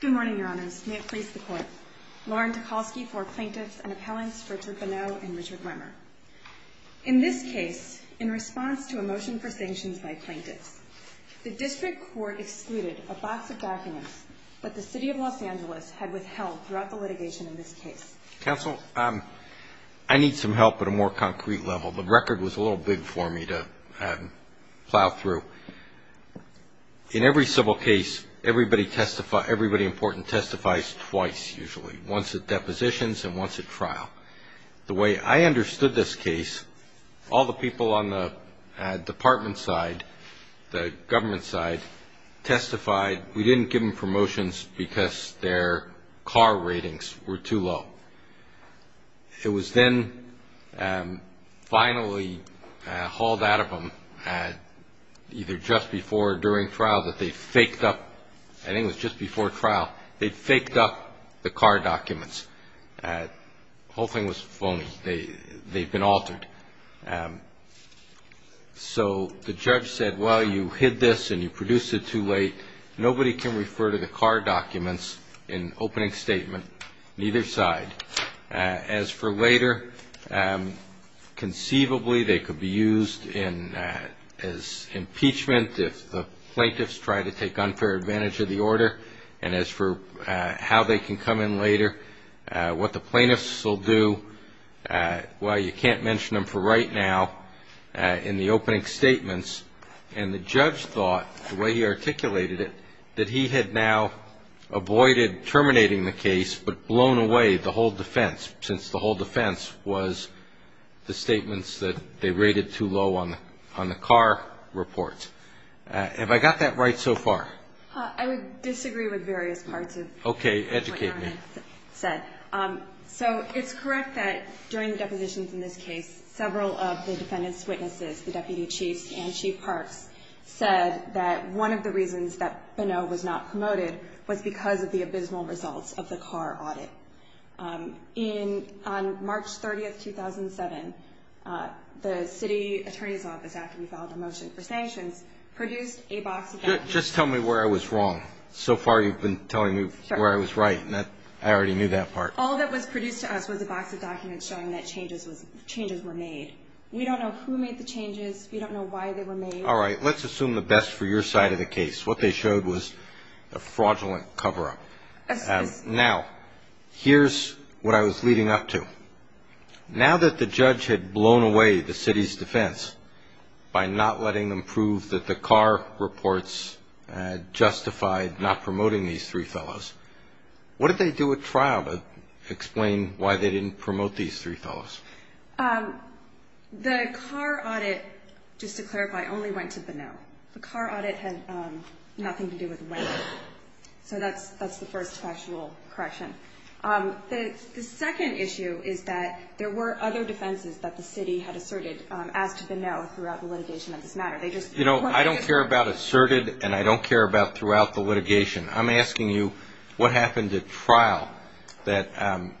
Good morning, Your Honors. May it please the Court. Lauren Tokolsky for Plaintiffs and Appellants, Richard Bonneau and Richard Wemmer. In this case, in response to a motion for sanctions by plaintiffs, the District Court excluded a box of documents that the City of Los Angeles had withheld throughout the litigation in this case. Counsel, I need some help at a more concrete level. The record was a little big for me to plow through. In every civil case, everybody important testifies twice usually, once at depositions and once at trial. The way I understood this case, all the people on the department side, the government side, testified we didn't give them promotions because their car ratings were too low. It was then finally hauled out of them either just before or during trial that they faked up, I think it was just before trial, they faked up the car documents. The whole thing was phony. They've been altered. So the judge said, well, you hid this and you produced it too late. Nobody can refer to the car documents in opening statement, neither side. As for later, conceivably they could be used as impeachment if the plaintiffs try to take unfair advantage of the order. And as for how they can come in later, what the plaintiffs will do, well, you can't mention them for right now in the opening statements. And the judge thought, the way he articulated it, that he had now avoided terminating the case but blown away the whole defense, since the whole defense was the statements that they rated too low on the car reports. Have I got that right so far? I would disagree with various parts of what you said. Okay, educate me. So it's correct that during the depositions in this case, several of the defendants' witnesses, the deputy chiefs and chief parks, said that one of the reasons that Bonneau was not promoted was because of the abysmal results of the car audit. On March 30, 2007, the city attorney's office, after we filed a motion for sanctions, produced a box of documents. Just tell me where I was wrong. So far you've been telling me where I was right, and I already knew that part. All that was produced to us was a box of documents showing that changes were made. We don't know who made the changes. We don't know why they were made. All right, let's assume the best for your side of the case. What they showed was a fraudulent cover-up. Now, here's what I was leading up to. Now that the judge had blown away the city's defense by not letting them prove that the car reports justified not promoting these three fellows, what did they do at trial to explain why they didn't promote these three fellows? The car audit, just to clarify, only went to Bonneau. The car audit had nothing to do with Wayne. So that's the first factual correction. The second issue is that there were other defenses that the city had asserted as to Bonneau throughout the litigation of this matter. You know, I don't care about asserted, and I don't care about throughout the litigation. I'm asking you what happened at trial that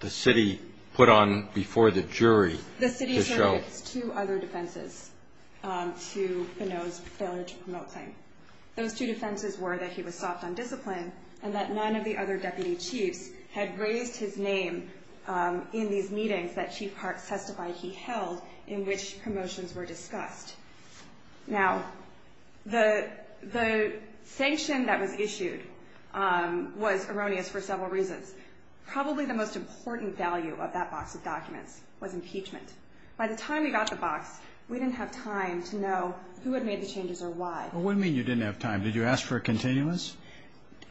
the city put on before the jury to show. The city asserted two other defenses to Bonneau's failure to promote claim. Those two defenses were that he was soft on discipline and that none of the other deputy chiefs had raised his name in these meetings that Chief Hart testified he held in which promotions were discussed. Now, the sanction that was issued was erroneous for several reasons. Probably the most important value of that box of documents was impeachment. By the time we got the box, we didn't have time to know who had made the changes or why. Well, what do you mean you didn't have time? Did you ask for a continuous?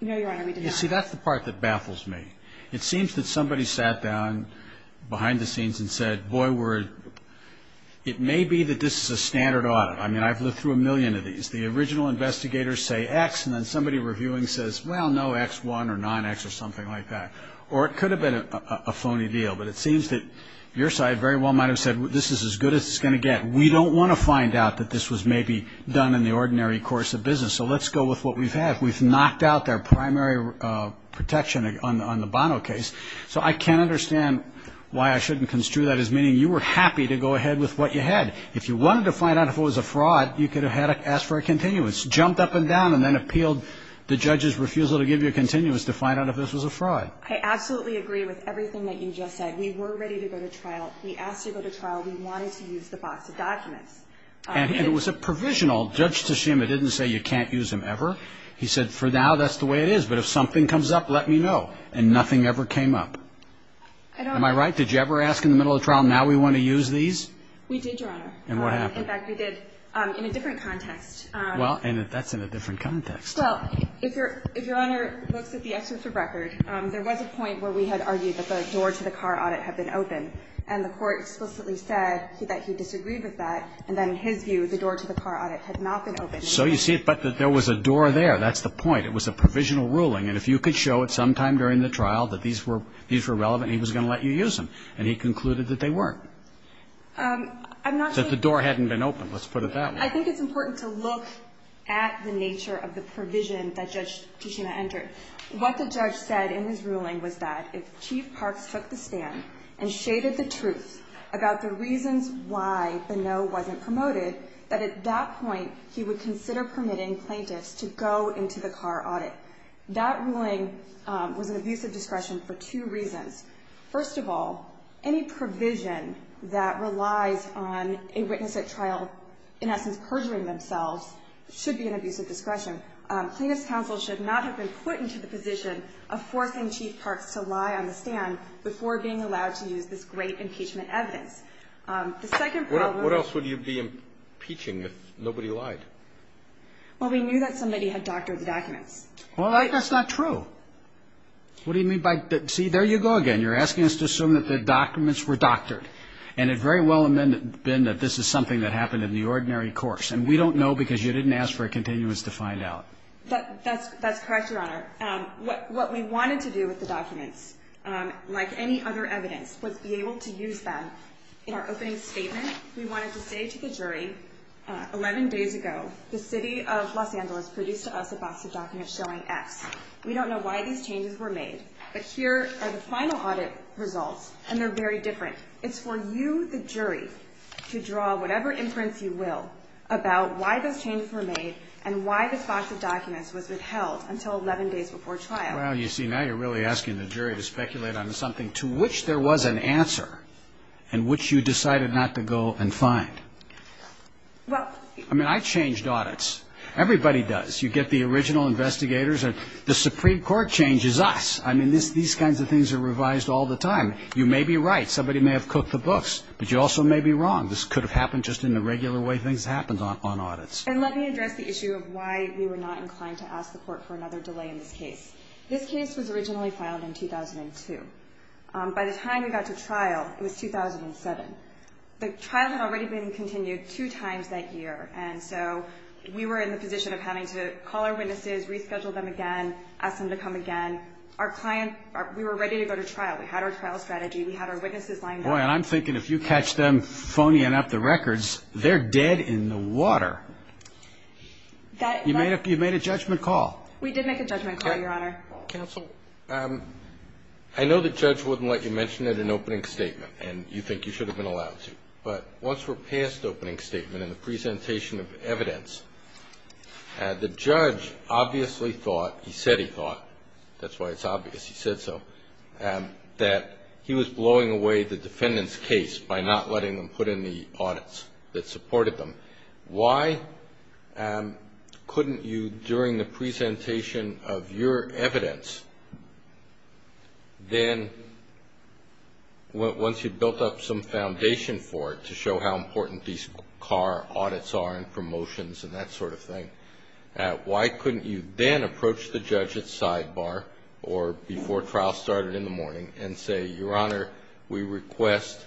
No, Your Honor, we did not. You see, that's the part that baffles me. It seems that somebody sat down behind the scenes and said, boy, it may be that this is a standard audit. I mean, I've looked through a million of these. The original investigators say X, and then somebody reviewing says, well, no, X1 or non-X or something like that. Or it could have been a phony deal. But it seems that your side very well might have said this is as good as it's going to get. We don't want to find out that this was maybe done in the ordinary course of business, so let's go with what we've had. We've knocked out their primary protection on the Bono case. So I can't understand why I shouldn't construe that as meaning you were happy to go ahead with what you had. If you wanted to find out if it was a fraud, you could have asked for a continuous, jumped up and down, and then appealed the judge's refusal to give you a continuous to find out if this was a fraud. I absolutely agree with everything that you just said. We were ready to go to trial. We asked to go to trial. We wanted to use the box of documents. And it was a provisional. Judge Teshima didn't say you can't use them ever. He said, for now, that's the way it is. But if something comes up, let me know. And nothing ever came up. I don't know. Am I right? Did you ever ask in the middle of trial, now we want to use these? We did, Your Honor. And what happened? In fact, we did in a different context. Well, and that's in a different context. Well, if Your Honor looks at the extensive record, there was a point where we had argued that the door to the car audit had been open. And the Court explicitly said that he disagreed with that. And then in his view, the door to the car audit had not been open. So you see, but there was a door there. That's the point. It was a provisional ruling. And if you could show at some time during the trial that these were relevant, he was going to let you use them. And he concluded that they weren't. I'm not saying that the door hadn't been open. Let's put it that way. I think it's important to look at the nature of the provision that Judge Teshima entered. What the judge said in his ruling was that if Chief Parks took the stand and shaded the truth about the reasons why the no wasn't promoted, that at that point he would consider permitting plaintiffs to go into the car audit. That ruling was an abuse of discretion for two reasons. First of all, any provision that relies on a witness at trial, in essence, perjuring themselves, should be an abuse of discretion. Plaintiffs' counsel should not have been put into the position of forcing Chief Parks to lie on the stand before being allowed to use this great impeachment evidence. The second problem was. What else would you be impeaching if nobody lied? Well, we knew that somebody had doctored the documents. Well, that's not true. What do you mean by that? See, there you go again. You're asking us to assume that the documents were doctored. And it very well had been that this is something that happened in the ordinary course. And we don't know because you didn't ask for a continuous to find out. That's correct, Your Honor. What we wanted to do with the documents, like any other evidence, was be able to use them. In our opening statement, we wanted to say to the jury, 11 days ago, the City of Los Angeles produced to us a box of documents showing X. We don't know why these changes were made. But here are the final audit results, and they're very different. It's for you, the jury, to draw whatever imprints you will about why those changes were made and why this box of documents was withheld until 11 days before trial. Well, you see, now you're really asking the jury to speculate on something to which there was an answer and which you decided not to go and find. I mean, I changed audits. Everybody does. You get the original investigators. The Supreme Court changes us. I mean, these kinds of things are revised all the time. You may be right. Somebody may have cooked the books, but you also may be wrong. This could have happened just in the regular way things happen on audits. And let me address the issue of why we were not inclined to ask the Court for another delay in this case. This case was originally filed in 2002. By the time we got to trial, it was 2007. The trial had already been continued two times that year, and so we were in the position of having to call our witnesses, reschedule them again, ask them to come again. Our client, we were ready to go to trial. We had our trial strategy. We had our witnesses lined up. Boy, and I'm thinking if you catch them phoning up the records, they're dead in the water. You made a judgment call. We did make a judgment call, Your Honor. Counsel, I know the judge wouldn't let you mention it in opening statement, and you think you should have been allowed to, but once we're past opening statement and the presentation of evidence, the judge obviously thought, he said he thought, that's why it's obvious he said so, that he was blowing away the defendant's case by not letting them put in the audits that supported them. Why couldn't you, during the presentation of your evidence, then once you'd built up some foundation for it to show how important these car audits are and promotions and that sort of thing, why couldn't you then approach the judge at sidebar or before trial started in the morning and say, Your Honor, we request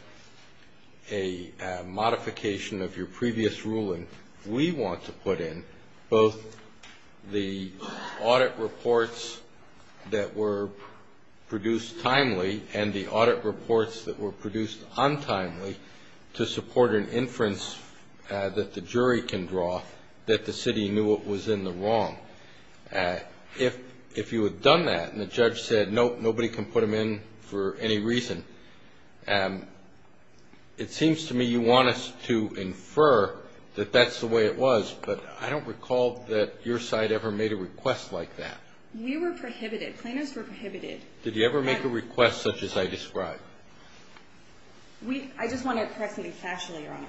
a modification of your previous ruling. We want to put in both the audit reports that were produced timely and the audit reports that were produced untimely to support an inference that the jury can draw that the city knew what was in the wrong. If you had done that and the judge said, nope, nobody can put them in for any reason, it seems to me you want us to infer that that's the way it was, but I don't recall that your side ever made a request like that. We were prohibited. Plaintiffs were prohibited. Did you ever make a request such as I described? I just want to correct something factually, Your Honor.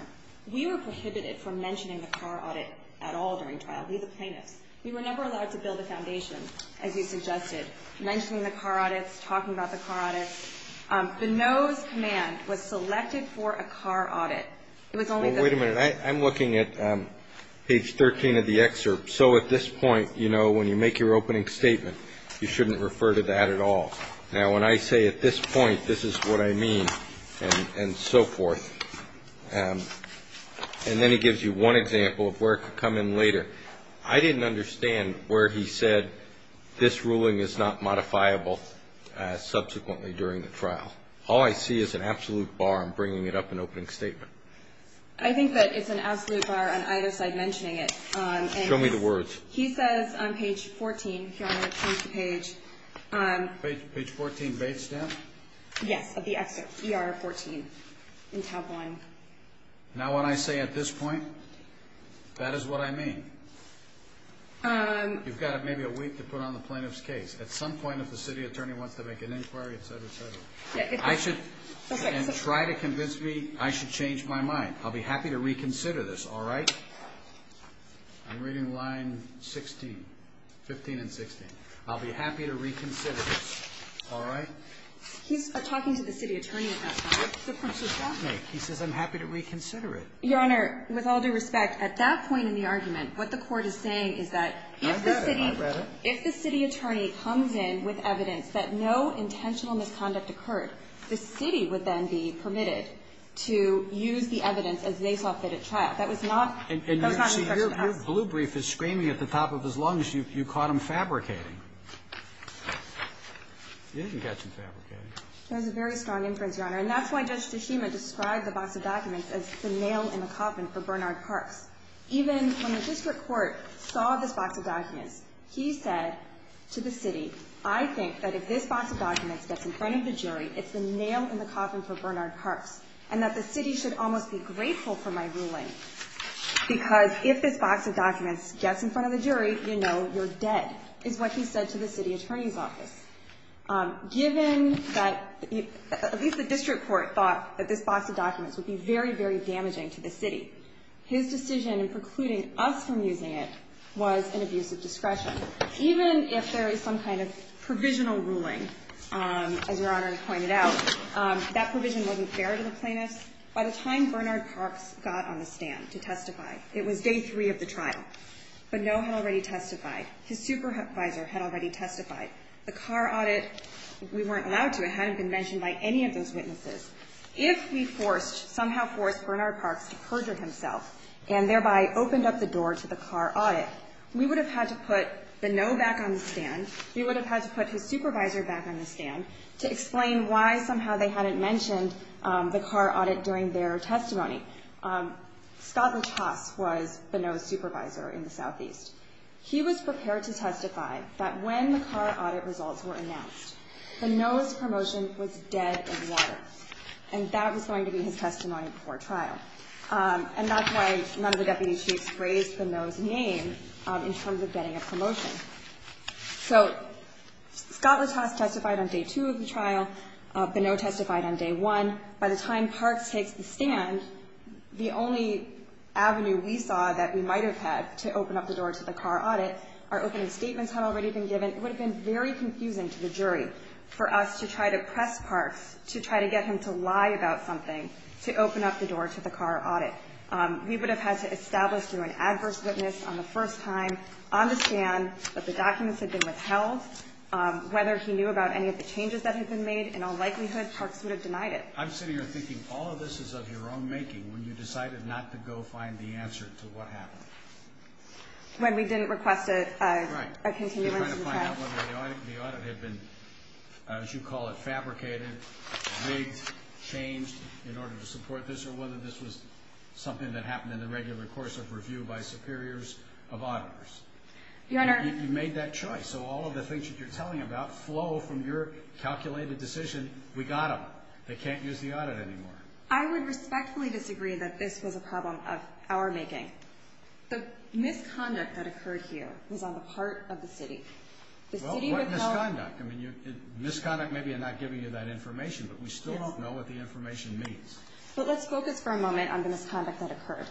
We were prohibited from mentioning the car audit at all during trial. We, the plaintiffs, we were never allowed to build a foundation, as you suggested, mentioning the car audits, talking about the car audits. The no's command was selected for a car audit. It was only the plaintiffs. Well, wait a minute. I'm looking at page 13 of the excerpt. So at this point, you know, when you make your opening statement, you shouldn't refer to that at all. Now, when I say at this point, this is what I mean, and so forth, and then he gives you one example of where it could come in later. I didn't understand where he said this ruling is not modifiable subsequently during the trial. All I see is an absolute bar in bringing it up in an opening statement. I think that it's an absolute bar on either side mentioning it. Show me the words. He says on page 14, if you want me to change the page. Page 14, bait stamp? Yes, of the excerpt, ER 14, in tab 1. Now, when I say at this point, that is what I mean. You've got maybe a week to put on the plaintiff's case. At some point, if the city attorney wants to make an inquiry, et cetera, et cetera, I should try to convince me I should change my mind. I'll be happy to reconsider this, all right? I'm reading line 16, 15 and 16. I'll be happy to reconsider this, all right? He's talking to the city attorney at that point. What difference does that make? He says I'm happy to reconsider it. Your Honor, with all due respect, at that point in the argument, what the Court is saying is that if the city attorney comes in with evidence that no intentional misconduct occurred, the city would then be permitted to use the evidence as they saw fit at trial. That was not the instruction asked for. And your blue brief is screaming at the top of his lungs. You caught him fabricating. You didn't catch him fabricating. That was a very strong inference, Your Honor. And that's why Judge Tshishima described the box of documents as the nail in the coffin for Bernard Parks. Even when the district court saw this box of documents, he said to the city, I think that if this box of documents gets in front of the jury, it's the nail in the coffin for Bernard Parks, and that the city should almost be grateful for my ruling because if this box of documents gets in front of the jury, you know you're dead, is what he said to the city attorney's office. Given that at least the district court thought that this box of documents would be very, very damaging to the city, his decision in precluding us from using it was an abuse of discretion. Even if there is some kind of provisional ruling, as Your Honor has pointed out, that provision wasn't fair to the plaintiffs. By the time Bernard Parks got on the stand to testify, it was day three of the trial, but no one had already testified. His supervisor had already testified. The car audit, we weren't allowed to. It hadn't been mentioned by any of those witnesses. If we forced, somehow forced Bernard Parks to perjure himself and thereby opened up the door to the car audit, we would have had to put Bonneau back on the stand. We would have had to put his supervisor back on the stand to explain why somehow they hadn't mentioned the car audit during their testimony. Scott LaChasse was Bonneau's supervisor in the southeast. He was prepared to testify that when the car audit results were announced, Bonneau's promotion was dead in the water, and that was going to be his testimony before trial. And that's why none of the deputy chiefs raised Bonneau's name in terms of getting a promotion. So Scott LaChasse testified on day two of the trial. Bonneau testified on day one. By the time Parks takes the stand, the only avenue we saw that we might have had to open up the door to the car audit, our opening statements had already been given. And it would have been very confusing to the jury for us to try to press Parks to try to get him to lie about something to open up the door to the car audit. We would have had to establish through an adverse witness on the first time on the stand that the documents had been withheld. Whether he knew about any of the changes that had been made, in all likelihood, Parks would have denied it. I'm sitting here thinking all of this is of your own making when you decided not to go find the answer to what happened. When we didn't request a continuance of the test. You're trying to find out whether the audit had been, as you call it, fabricated, rigged, changed in order to support this, or whether this was something that happened in the regular course of review by superiors of auditors. You made that choice. So all of the things that you're telling about flow from your calculated decision, we got them. They can't use the audit anymore. I would respectfully disagree that this was a problem of our making. The misconduct that occurred here was on the part of the city. What misconduct? Misconduct may be in not giving you that information, but we still don't know what the information means. But let's focus for a moment on the misconduct that occurred.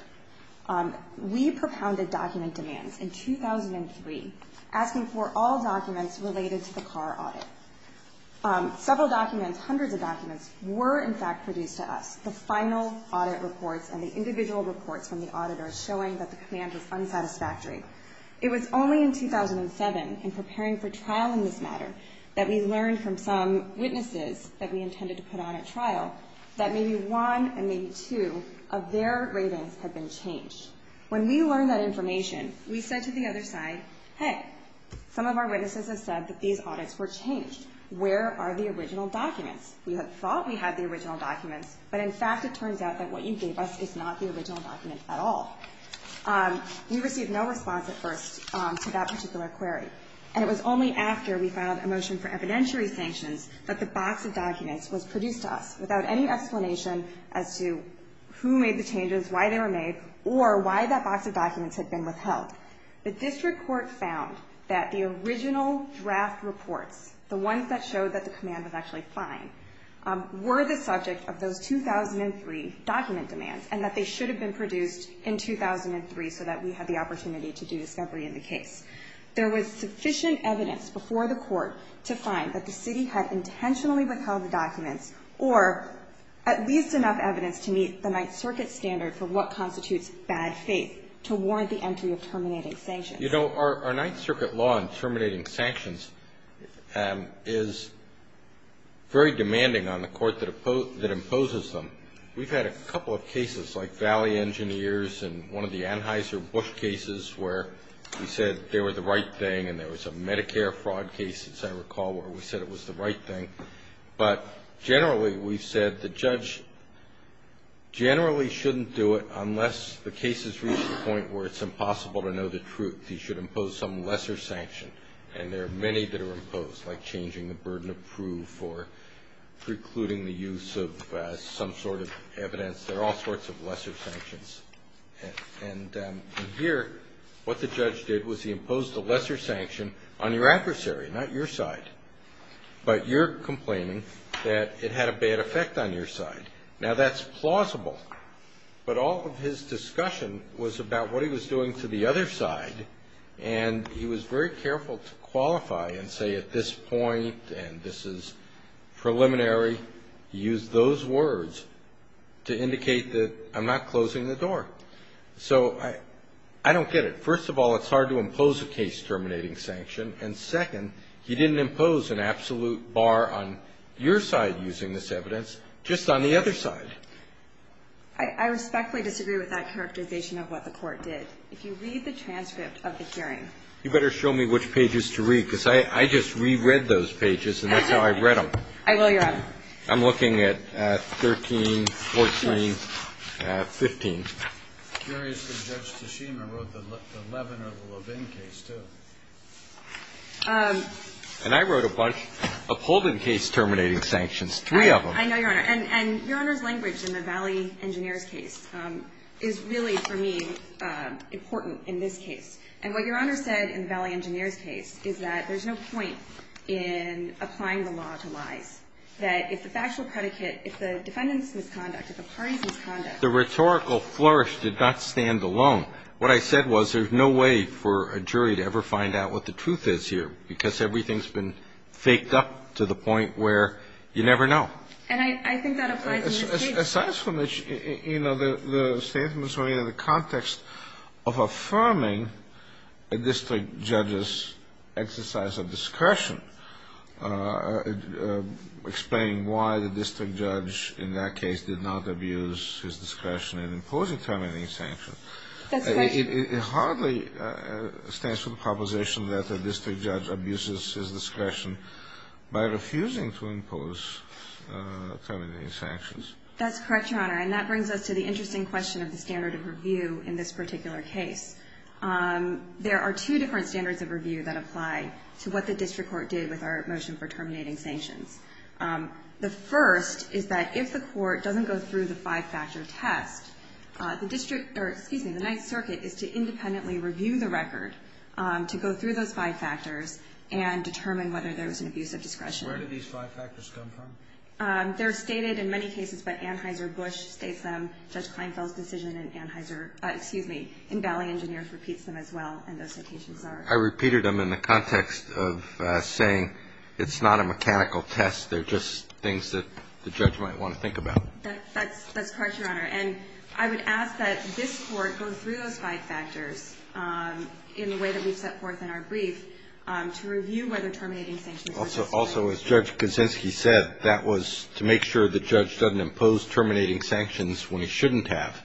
We propounded document demands in 2003, asking for all documents related to the car audit. Several documents, hundreds of documents, were, in fact, produced to us. The final audit reports and the individual reports from the auditors showing that the demand was unsatisfactory. It was only in 2007, in preparing for trial in this matter, that we learned from some witnesses that we intended to put on at trial that maybe one and maybe two of their ratings had been changed. When we learned that information, we said to the other side, hey, some of our witnesses have said that these audits were changed. Where are the original documents? We had thought we had the original documents, but, in fact, it turns out that what you gave us is not the original document at all. We received no response at first to that particular query. And it was only after we filed a motion for evidentiary sanctions that the box of documents was produced to us who made the changes, why they were made, or why that box of documents had been withheld. The district court found that the original draft reports, the ones that showed that the command was actually fine, were the subject of those 2003 document demands and that they should have been produced in 2003 so that we had the opportunity to do discovery in the case. There was sufficient evidence before the court to find that the city had intentionally withheld the documents or at least enough evidence to meet the Ninth Circuit standard for what constitutes bad faith to warrant the entry of terminating sanctions. You know, our Ninth Circuit law in terminating sanctions is very demanding on the court that imposes them. We've had a couple of cases like Valley Engineers and one of the Anheuser-Busch cases where we said they were the right thing and there was a Medicare fraud case, as I recall, where we said it was the right thing. But generally, we've said the judge generally shouldn't do it unless the case has reached the point where it's impossible to know the truth. He should impose some lesser sanction, and there are many that are imposed, like changing the burden of proof or precluding the use of some sort of evidence. There are all sorts of lesser sanctions. And here, what the judge did was he imposed a lesser sanction on your adversary, not your side. But you're complaining that it had a bad effect on your side. Now, that's plausible. But all of his discussion was about what he was doing to the other side, and he was very careful to qualify and say at this point and this is preliminary. He used those words to indicate that I'm not closing the door. So I don't get it. First of all, it's hard to impose a case terminating sanction. And second, he didn't impose an absolute bar on your side using this evidence, just on the other side. I respectfully disagree with that characterization of what the Court did. If you read the transcript of the hearing. You better show me which pages to read, because I just reread those pages, and that's how I read them. I will, Your Honor. I'm looking at 13, 14, 15. I'm curious if Judge Toshima wrote the Levin or the Levin case, too. And I wrote a bunch of Holden case terminating sanctions, three of them. I know, Your Honor. And Your Honor's language in the Valley Engineer's case is really, for me, important in this case. And what Your Honor said in the Valley Engineer's case is that there's no point in applying the law to lies, that if the factual predicate, if the defendant's misconduct, if the parties' misconduct. The rhetorical flourish did not stand alone. What I said was there's no way for a jury to ever find out what the truth is here, because everything's been faked up to the point where you never know. And I think that applies in this case. Aside from the, you know, the statements related to the context of affirming a district judge's exercise of discretion, explaining why the district judge in that case did not abuse his discretion in imposing terminating sanctions. That's correct. It hardly stands for the proposition that the district judge abuses his discretion by refusing to impose terminating sanctions. That's correct, Your Honor. And that brings us to the interesting question of the standard of review in this particular case. There are two different standards of review that apply to what the district court did with our motion for terminating sanctions. The first is that if the court doesn't go through the five-factor test, the district, or excuse me, the Ninth Circuit is to independently review the record to go through those five factors and determine whether there was an abuse of discretion. Where did these five factors come from? They're stated in many cases by Anheuser-Busch, states them, Judge Kleinfeld's decision in Anheuser, repeats them as well, and those citations are? I repeated them in the context of saying it's not a mechanical test, they're just things that the judge might want to think about. That's correct, Your Honor. And I would ask that this court go through those five factors in the way that we've set forth in our brief to review whether terminating sanctions were justified. Also, as Judge Kuczynski said, that was to make sure the judge doesn't impose terminating sanctions when he shouldn't have.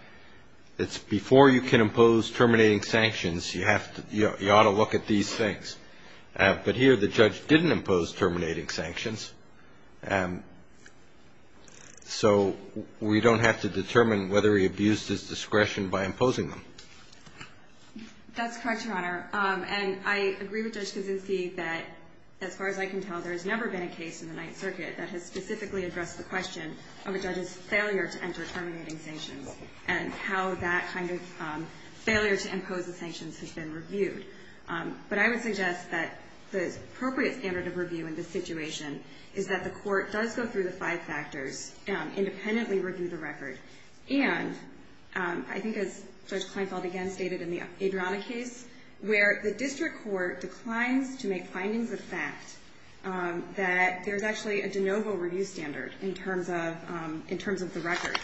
It's before you can impose terminating sanctions, you have to – you ought to look at these things. But here, the judge didn't impose terminating sanctions, so we don't have to determine whether he abused his discretion by imposing them. That's correct, Your Honor. And I agree with Judge Kuczynski that, as far as I can tell, there has never been a case in the Ninth Circuit that has specifically addressed the question of a judge's failure to enter terminating sanctions. And how that kind of failure to impose the sanctions has been reviewed. But I would suggest that the appropriate standard of review in this situation is that the court does go through the five factors, independently review the record. And I think as Judge Kleinfeld again stated in the Adriana case, where the district court declines to make findings of fact, that there's actually a de novo review standard in terms of the record.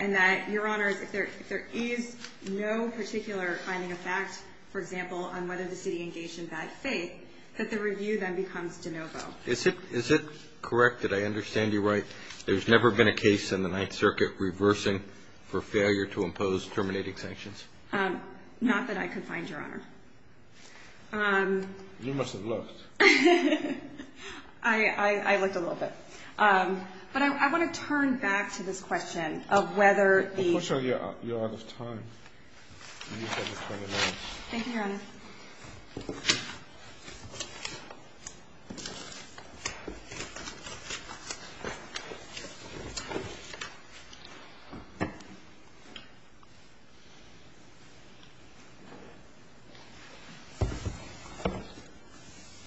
And that, Your Honors, if there is no particular finding of fact, for example, on whether the city engaged in bad faith, that the review then becomes de novo. Is it correct that I understand you right, there's never been a case in the Ninth Circuit reversing for failure to impose terminating sanctions? Not that I could find, Your Honor. You must have looked. I looked a little bit. But I want to turn back to this question of whether the- Of course, Your Honor, you're out of time.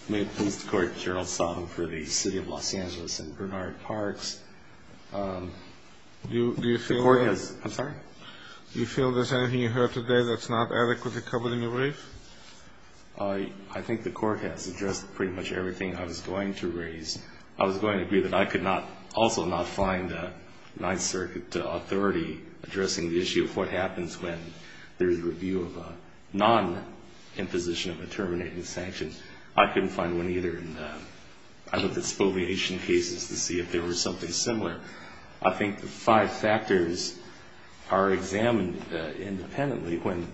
May it please the Court, Your Honor, I'll stop for the City of Los Angeles and Bernard Parks. Do you feel- The Court has- I'm sorry? Do you feel there's anything you heard today that's not adequately covered in your brief? I think the Court has addressed pretty much everything I was going to raise. I was going to agree that I could also not find Ninth Circuit authority addressing the issue of what happens when there's review of a non-imposition of a terminating sanction. I couldn't find one either. And I looked at spoliation cases to see if there was something similar. I think the five factors are examined independently when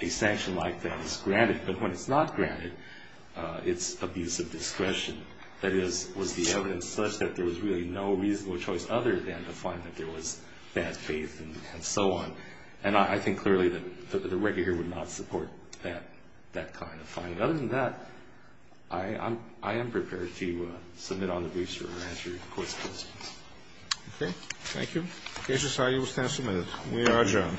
a sanction like that is granted. But when it's not granted, it's abuse of discretion. That is, was the evidence such that there was really no reasonable choice other than to find that there was bad faith and so on? And I think clearly that the record here would not support that kind of finding. Other than that, I am prepared to submit on the briefs for an answer to the Court's questions. Okay. Thank you. The case has now been submitted. We are adjourned.